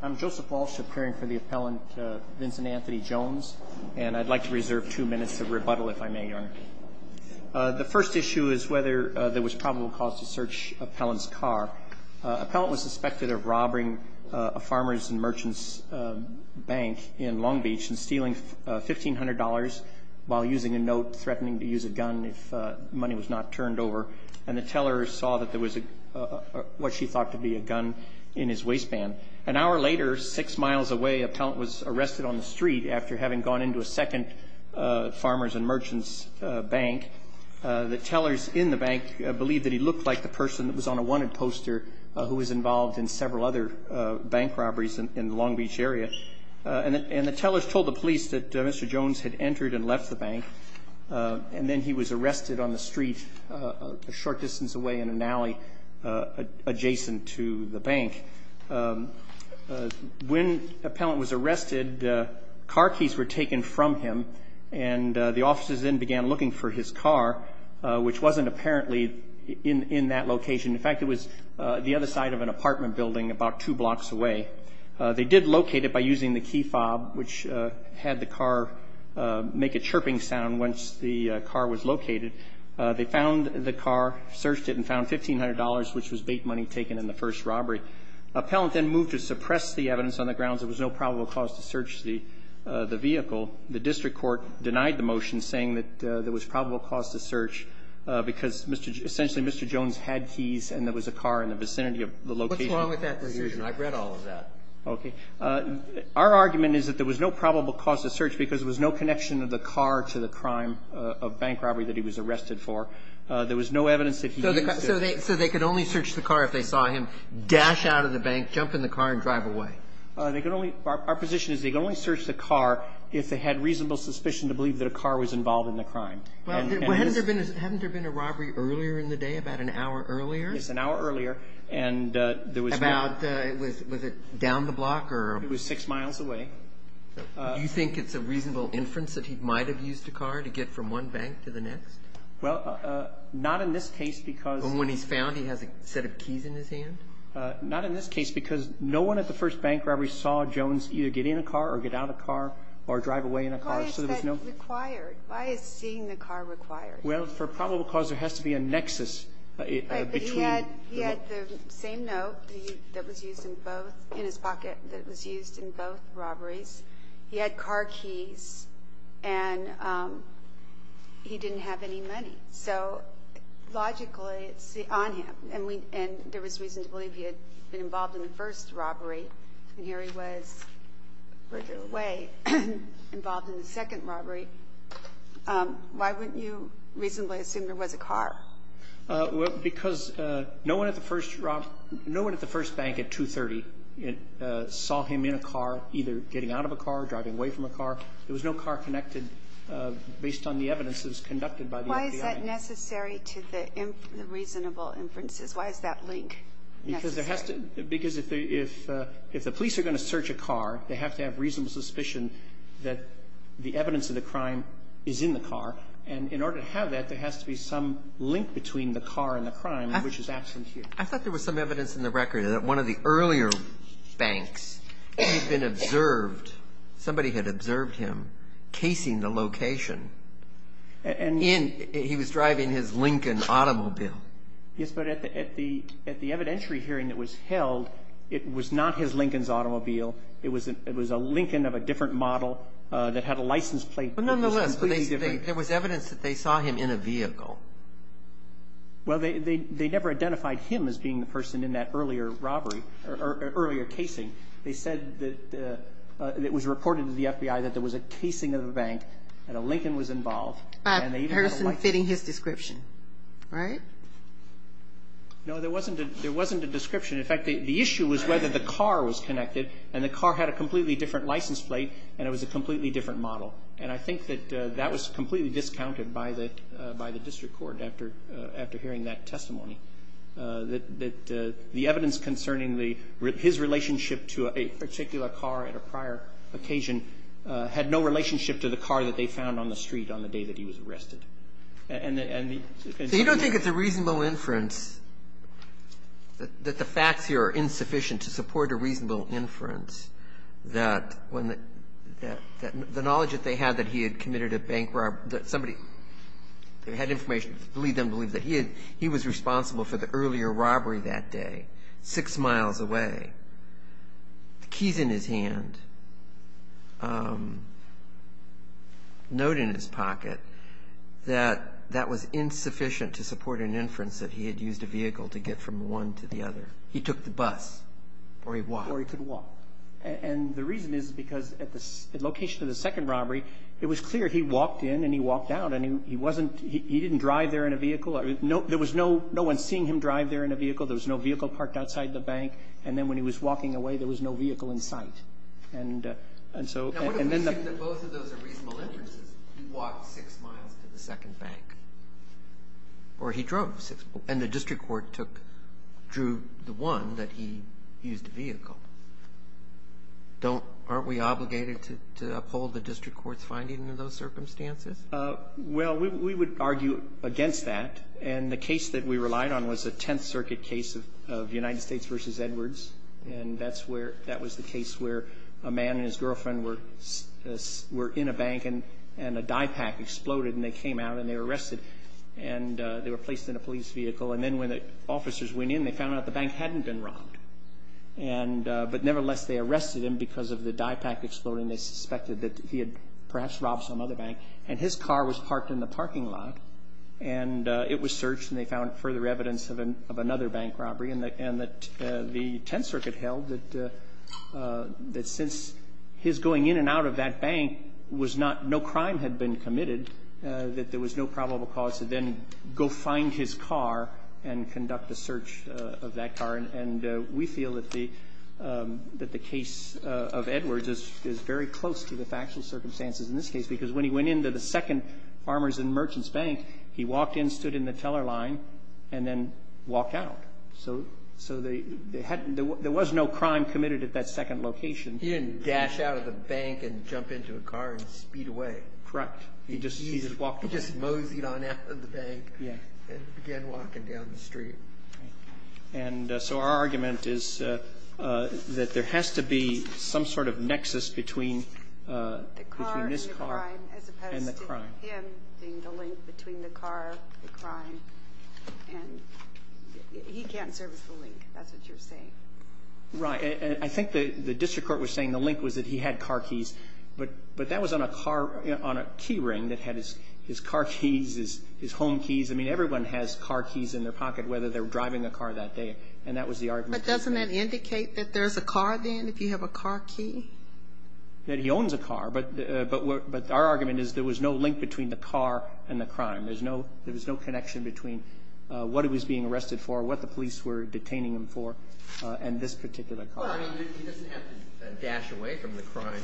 I'm Joseph Walsh appearing for the appellant Vincent Anthony Jones and I'd like to reserve two minutes of rebuttal if I may your honor. The first issue is whether there was probable cause to search appellant's car. Appellant was suspected of robbing a farmers and merchants bank in Long Beach and stealing $1,500 while using a note threatening to use a gun if money was not turned over and the teller saw that there was a what she thought to be a gun in his waistband. An hour later six miles away appellant was arrested on the street after having gone into a second farmers and merchants bank. The tellers in the bank believed that he looked like the person that was on a wanted poster who was involved in several other bank robberies in the Long Beach area and the tellers told the police that mr. Jones had entered and left the bank and then he was arrested on the street a short distance away in an alley adjacent to the bank. When appellant was arrested car keys were taken from him and the officers then began looking for his car which wasn't apparently in in that location in fact it was the other side of an apartment building about two blocks away. They did locate it by using the key fob which had the car make a chirping sound once the car was located. They found the car searched it and found $1,500 which was bait money taken in the first robbery. Appellant then moved to suppress the evidence on the grounds there was no probable cause to search the the vehicle. The district court denied the motion saying that there was probable cause to search because mr. essentially mr. Jones had keys and there was a car in the vicinity of the location. Our argument is that there was no probable cause to search because there was no connection of the car to the crime of bank robbery that he was arrested for. There was no evidence. So they said they could only search the car if they saw him dash out of the bank jump in the car and drive away. They could only our position is they can only search the car if they had reasonable suspicion to believe that a car was involved in the crime. Hadn't there been a robbery earlier in the day about an hour earlier? It's an hour earlier and there was. Was it down the block? It was six miles away. Do you think it's a reasonable inference that he might have used a car to get from one bank to the next? Well not in this case because. When he's found he has a set of keys in his hand? Not in this case because no one at the first bank robbery saw Jones either get in a car or get out of car or drive away in a car so there was no. Why is that required? Why is seeing the car required? Well for probable cause there has to be a nexus between. He had the same note that was used in both in his pocket in both robberies. He had car keys and he didn't have any money. So logically it's on him and there was reason to believe he had been involved in the first robbery and here he was further away involved in the second robbery. Why wouldn't you reasonably assume there was a car? Because no one at the first bank at 2.30 saw him in a car either getting out of a car or driving away from a car. There was no car connected based on the evidence that was conducted by the FBI. Why is that necessary to the reasonable inferences? Why is that link necessary? Because if the police are going to search a car they have to have reasonable suspicion that the evidence of the crime is in the car. And in order to have that there has to be some link between the car and the crime which is absent here. I thought there was some evidence in the record that one of the earlier banks he'd been observed, somebody had observed him casing the location. He was driving his Lincoln automobile. Yes but at the evidentiary hearing that was held it was not his Lincoln's automobile. It was a Lincoln of a different model that had a license plate that was completely different. There was evidence that they saw him in a vehicle. Well they never identified him as being the person in that earlier robbery or earlier casing. They said that it was reported to the FBI that there was a casing of the bank and a Lincoln was involved. A person fitting his description, right? No there wasn't a description. In fact the issue was whether the car was connected and the car had a completely different license plate and it was a completely different model. And I think that that was completely discounted by the district court after hearing that testimony. That the evidence concerning his relationship to a particular car at a prior occasion had no relationship to the car that they found on the street on the day that he was arrested. So you don't think it's a reasonable inference that the facts here are insufficient to support a reasonable inference that the knowledge that they had that he had committed a bank robbery, that somebody had information to lead them to believe that he was responsible for the earlier robbery that day, six miles away, the keys in his hand, a note in his pocket, that that was insufficient to support an inference that he had used a vehicle to get from one to the other. He took the bus or he walked. Or he could walk. And the reason is because at the location of the second robbery it was clear he walked in and he walked out and he wasn't, he didn't drive there in a vehicle, there was no one seeing him drive there in a vehicle, there was no vehicle parked outside the bank, and then when he was walking away there was no vehicle in sight. And so, and then the Now what if we assume that both of those are reasonable inferences? He walked six miles to the second bank. Or he drove six miles. And the district court took, drew the one that he used a vehicle. Don't, aren't we obligated to uphold the district court's finding in those circumstances? Well, we would argue against that. And the case that we relied on was a Tenth Circuit case of United States v. Edwards. And that's where, that was the case where a man and his girlfriend were, were in a bank and a dye pack exploded and they came out and they were arrested and they were placed in a police vehicle. And then when the officers went in, they found out the bank hadn't been robbed. And, but nevertheless, they arrested him because of the dye pack exploding. They suspected that he had perhaps robbed some other bank. And his car was parked in the parking lot and it was searched and they found further evidence of another bank robbery and that, and that the Tenth Circuit held that, that since his going in and out of that bank was not, no crime had been committed, that there was no probable cause to then go find his car. And conduct the search of that car. And, and we feel that the, that the case of Edwards is, is very close to the factual circumstances in this case, because when he went into the second Farmers and Merchants Bank, he walked in, stood in the teller line and then walked out. So, so they hadn't, there was no crime committed at that second location. He didn't dash out of the bank and jump into a car and speed away. Correct. He just, he just walked. He just moseyed on out of the bank and began walking down the street. And so our argument is that there has to be some sort of nexus between the car and the crime, as opposed to him being the link between the car, the crime, and he can't serve as the link. That's what you're saying. Right. And I think that the district court was saying the link was that he had car keys, but, but that was on a car, on a key ring that had his, his car keys, his, his home keys. I mean, everyone has car keys in their pocket, whether they're driving a car that day. And that was the argument. But doesn't that indicate that there's a car then, if you have a car key? That he owns a car. But, but, but our argument is there was no link between the car and the crime. There's no, there was no connection between what he was being arrested for, what the police were detaining him for, and this particular car. Well, I mean, he doesn't have to dash away from the crime,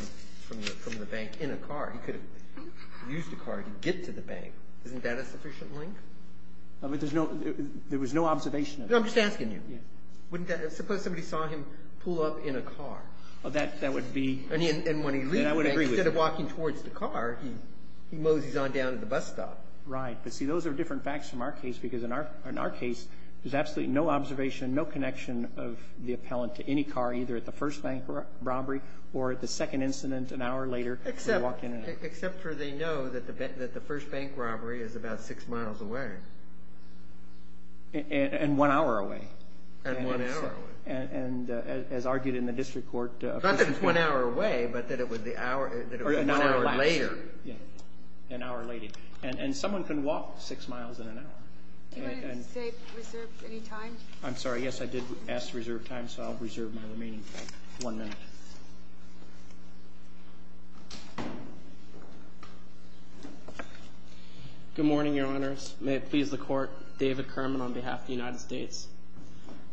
from the bank in a car. He could have used a car to get to the bank. Isn't that a sufficient link? I mean, there's no, there was no observation. I'm just asking you, wouldn't that, suppose somebody saw him pull up in a car? Well, that, that would be. I mean, and when he leaves the bank, instead of walking towards the car, he moseys on down to the bus stop. Right. But see, those are different facts from our case, because in our, in our case, there's absolutely no observation, no connection of the appellant to any car, either at the first bank robbery or at the second incident, an hour later. Except, except for they know that the, that the first bank robbery is about six miles away. And one hour away. And one hour away. And as argued in the district court. Not that it's one hour away, but that it would be an hour later. Yeah. An hour later. And someone can walk six miles in an hour. Do you want to reserve any time? I'm sorry. Yes, I did ask to reserve time, so I'll reserve my remaining one minute. Good morning, Your Honors. May it please the Court, David Kerman on behalf of the United States.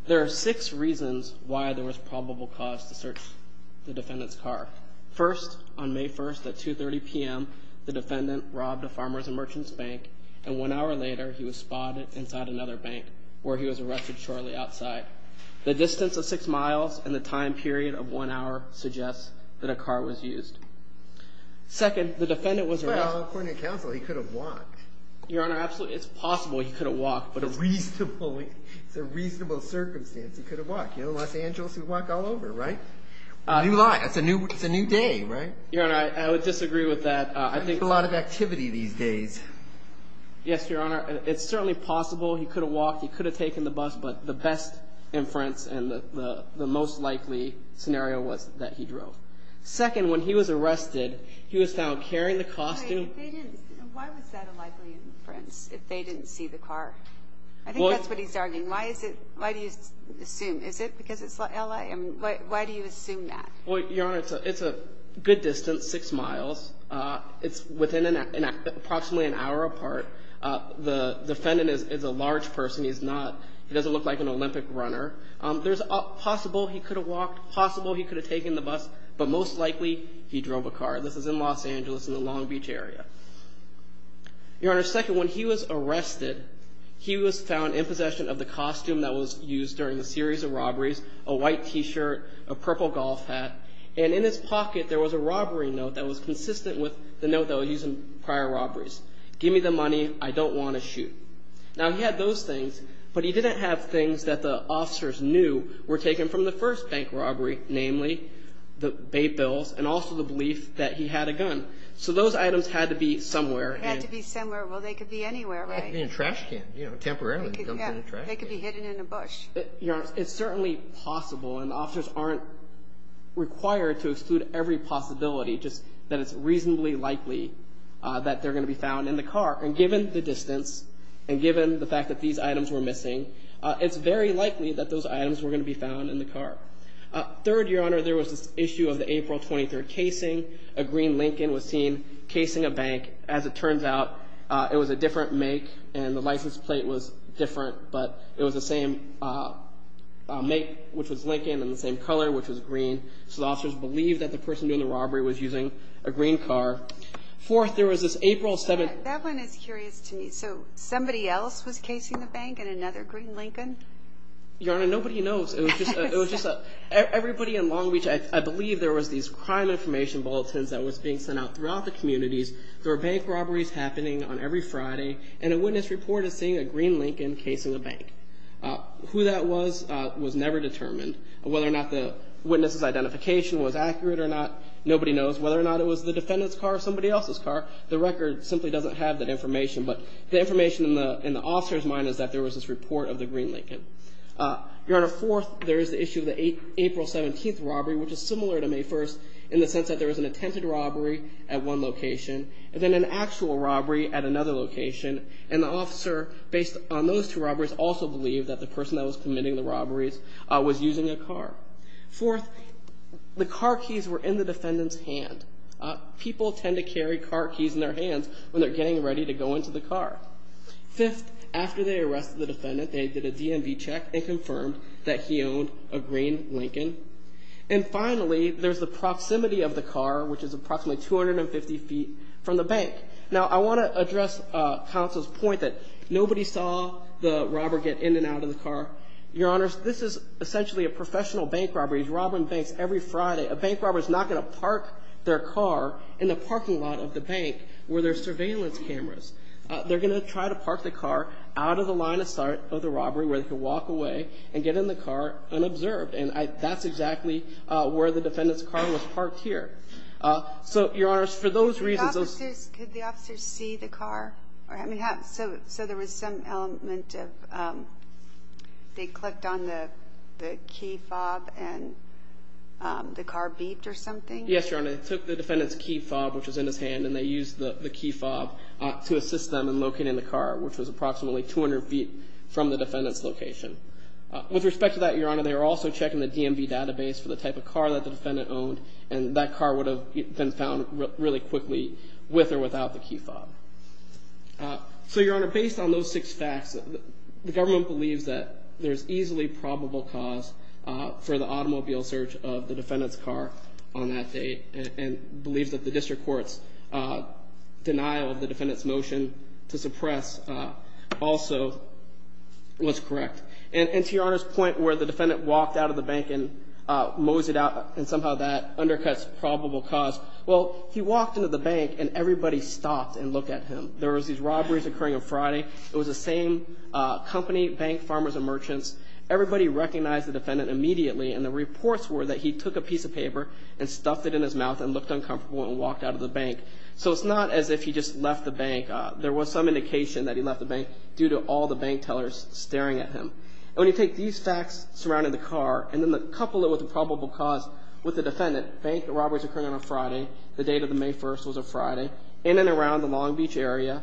There are six reasons why there was probable cause to search the defendant's car. First, on May 1st, at 2.30 p.m., the defendant robbed a farmer's and merchant's bank, and one hour later, he was spotted inside another bank, where he was arrested shortly outside. The distance of six miles and the time period of one hour suggests that a car was used. Second, the defendant was arrested. Well, according to counsel, he could have walked. Your Honor, absolutely, it's possible he could have walked. But it's reasonable. It's a reasonable circumstance. He could have walked. You know, Los Angeles, we walk all over, right? New life. It's a new day, right? Your Honor, I would disagree with that. I think a lot of activity these days. Yes, Your Honor. It's certainly possible he could have walked. He could have taken the bus. But the best inference and the most likely scenario was that he drove. Second, when he was arrested, he was found carrying the costume. Why was that a likely inference, if they didn't see the car? I think that's what he's arguing. Why is it? Why do you assume? Is it because it's L.A.? I mean, why do you assume that? Well, Your Honor, it's a good distance, six miles. It's within approximately an hour apart. The defendant is a large person. He's not. He doesn't look like an Olympic runner. There's a possible he could have walked, possible he could have taken the bus. But most likely, he drove a car. This is in Los Angeles in the Long Beach area. Your Honor, second, when he was arrested, he was found in possession of the costume that was used during the series of robberies, a white T-shirt, a purple golf hat, and in his pocket, there was a robbery note that was consistent with the note that was used in prior robberies. Give me the money. I don't want to shoot. Now, he had those things, but he didn't have things that the officers knew were taken from the first bank robbery, namely the bait bills and also the belief that he had a gun. So those items had to be somewhere. Had to be somewhere. Well, they could be anywhere, right? In a trash can, you know, temporarily. They could be hidden in a bush. Your Honor, it's certainly possible, and the officers aren't required to exclude every possibility, just that it's reasonably likely that they're going to be found in the car. And given the distance and given the fact that these items were missing, it's very likely that those items were going to be found in the car. A green Lincoln was seen casing a bank. As it turns out, it was a different make, and the license plate was different, but it was the same make, which was Lincoln, and the same color, which was green. So the officers believed that the person doing the robbery was using a green car. Fourth, there was this April 7th... That one is curious to me. So somebody else was casing the bank and another green Lincoln? Your Honor, nobody knows. It was just everybody in Long Beach, I believe there was these crime information bulletins that was being sent out throughout the communities. There were bank robberies happening on every Friday, and a witness report is seeing a green Lincoln casing a bank. Who that was, was never determined. Whether or not the witness's identification was accurate or not, nobody knows. Whether or not it was the defendant's car or somebody else's car, the record simply doesn't have that information. But the information in the officer's mind is that there was this report of the green Lincoln. Your Honor, fourth, there is the issue of the April 17th robbery, which is similar to May 1st, in the sense that there was an attempted robbery at one location, and then an actual robbery at another location, and the officer, based on those two robberies, also believed that the person that was committing the robberies was using a car. Fourth, the car keys were in the defendant's hand. People tend to carry car keys in their hands when they're getting ready to go into the car. Fifth, after they arrested the defendant, they did a DMV check and confirmed that he owned a green Lincoln. And finally, there's the proximity of the car, which is approximately 250 feet from the bank. Now, I want to address counsel's point that nobody saw the robber get in and out of the car. Your Honors, this is essentially a professional bank robbery. He's robbing banks every Friday. A bank robber is not going to park their car in the parking lot of the bank where there's surveillance cameras. They're going to try to park the car out of the line of sight of the robbery, where they can walk away and get in the car unobserved. And that's exactly where the defendant's car was parked here. So, Your Honors, for those reasons, those... Could the officers see the car? I mean, so there was some element of, they clicked on the key fob and the car beeped or something? Yes, Your Honor. They took the defendant's key fob, which was in his hand, and they used the key fob to assist them in locating the car, which was approximately 200 feet from the defendant's location. With respect to that, Your Honor, they were also checking the DMV database for the type of car that the defendant owned. And that car would have been found really quickly with or without the key fob. So, Your Honor, based on those six facts, the government believes that there's easily probable cause for the automobile search of the defendant's car on that date. And believes that the district court's denial of the defendant's motion to suppress also was correct. And to Your Honor's point where the defendant walked out of the bank and moseyed out, and somehow that undercuts probable cause. Well, he walked into the bank and everybody stopped and looked at him. There was these robberies occurring on Friday. It was the same company, bank, farmers and merchants. Everybody recognized the defendant immediately. And the reports were that he took a piece of paper and stuffed it in his mouth and looked uncomfortable and walked out of the bank. So it's not as if he just left the bank. There was some indication that he left the bank due to all the bank tellers staring at him. And when you take these facts surrounding the car and then the couple that was a probable cause with the defendant, bank, the robberies occurring on a Friday, the date of the May 1st was a Friday, in and around the Long Beach area,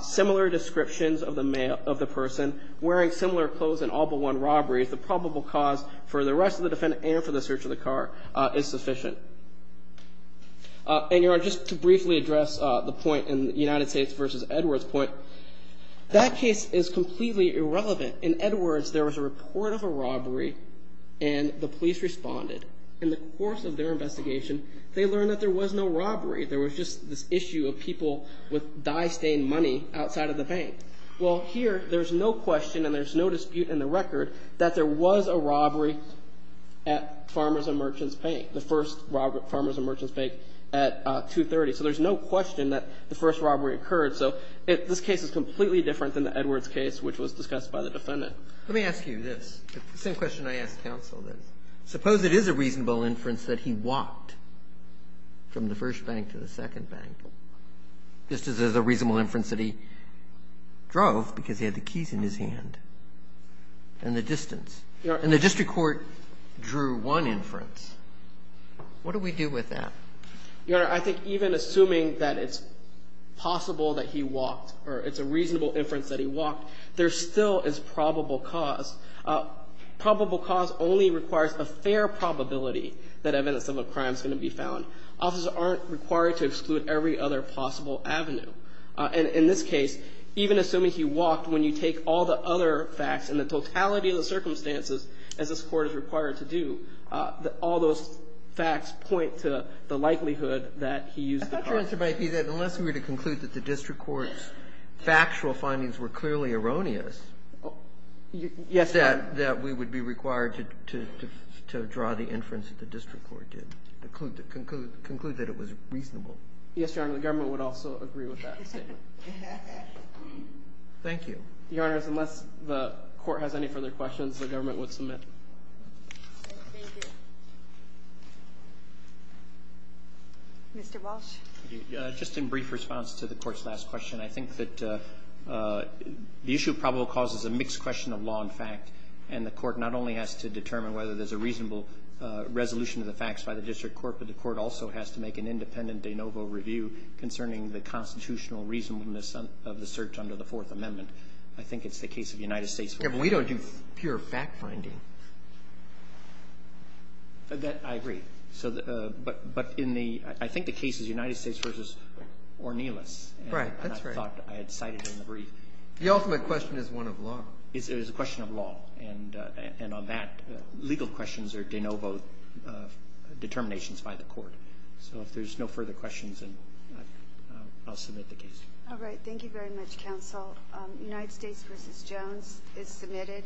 similar descriptions of the person wearing similar clothes and all but one robberies, the probable cause for the rest of the defendant and for the search of the car is sufficient. And Your Honor, just to briefly address the point in the United States versus Edwards point, that case is completely irrelevant. In Edwards, there was a report of a robbery and the police responded. In the course of their investigation, they learned that there was no robbery. There was just this issue of people with dye stained money outside of the bank. Well, here, there's no question and there's no dispute in the record that there was a robbery at Farmers and Merchants Bank, the first Farmers and Merchants Bank at 230. So there's no question that the first robbery occurred. So this case is completely different than the Edwards case, which was discussed by the defendant. Let me ask you this, the same question I asked counsel this. Suppose it is a reasonable inference that he walked from the first bank to the second bank, just as a reasonable inference that he drove because he had the keys in his hand and the distance. And the district court drew one inference. What do we do with that? Your Honor, I think even assuming that it's possible that he walked or it's a reasonable inference that he walked, there still is probable cause. Probable cause only requires a fair probability that evidence of a crime is going to be found. Officers aren't required to exclude every other possible avenue. And in this case, even assuming he walked, when you take all the other facts and the totality of the circumstances, as this court is required to do, all those facts point to the likelihood that he used the car. I thought your answer might be that unless we were to conclude that the district court's factual findings were clearly erroneous. Yes, Your Honor. That we would be required to draw the inference that the district court did, conclude that it was reasonable. Yes, Your Honor, the government would also agree with that statement. Thank you. Your Honor, unless the court has any further questions, the government would submit. Mr. Walsh. Just in brief response to the court's last question, I think that the issue of probable cause is a mixed question of law and fact. And the court not only has to determine whether there's a reasonable resolution of the facts by the district court, but the court also has to make an independent de novo review concerning the constitutional reasonableness of the search under the Fourth Amendment. I think it's the case of the United States. Yeah, but we don't do pure fact-finding. That, I agree. So, but in the, I think the case is United States versus Ornelas. Right, that's right. And I thought I had cited it in the brief. The ultimate question is one of law. It is a question of law. And on that, legal questions are de novo determinations by the court. So if there's no further questions, then I'll submit the case. All right. Thank you very much, counsel. United States versus Jones is submitted.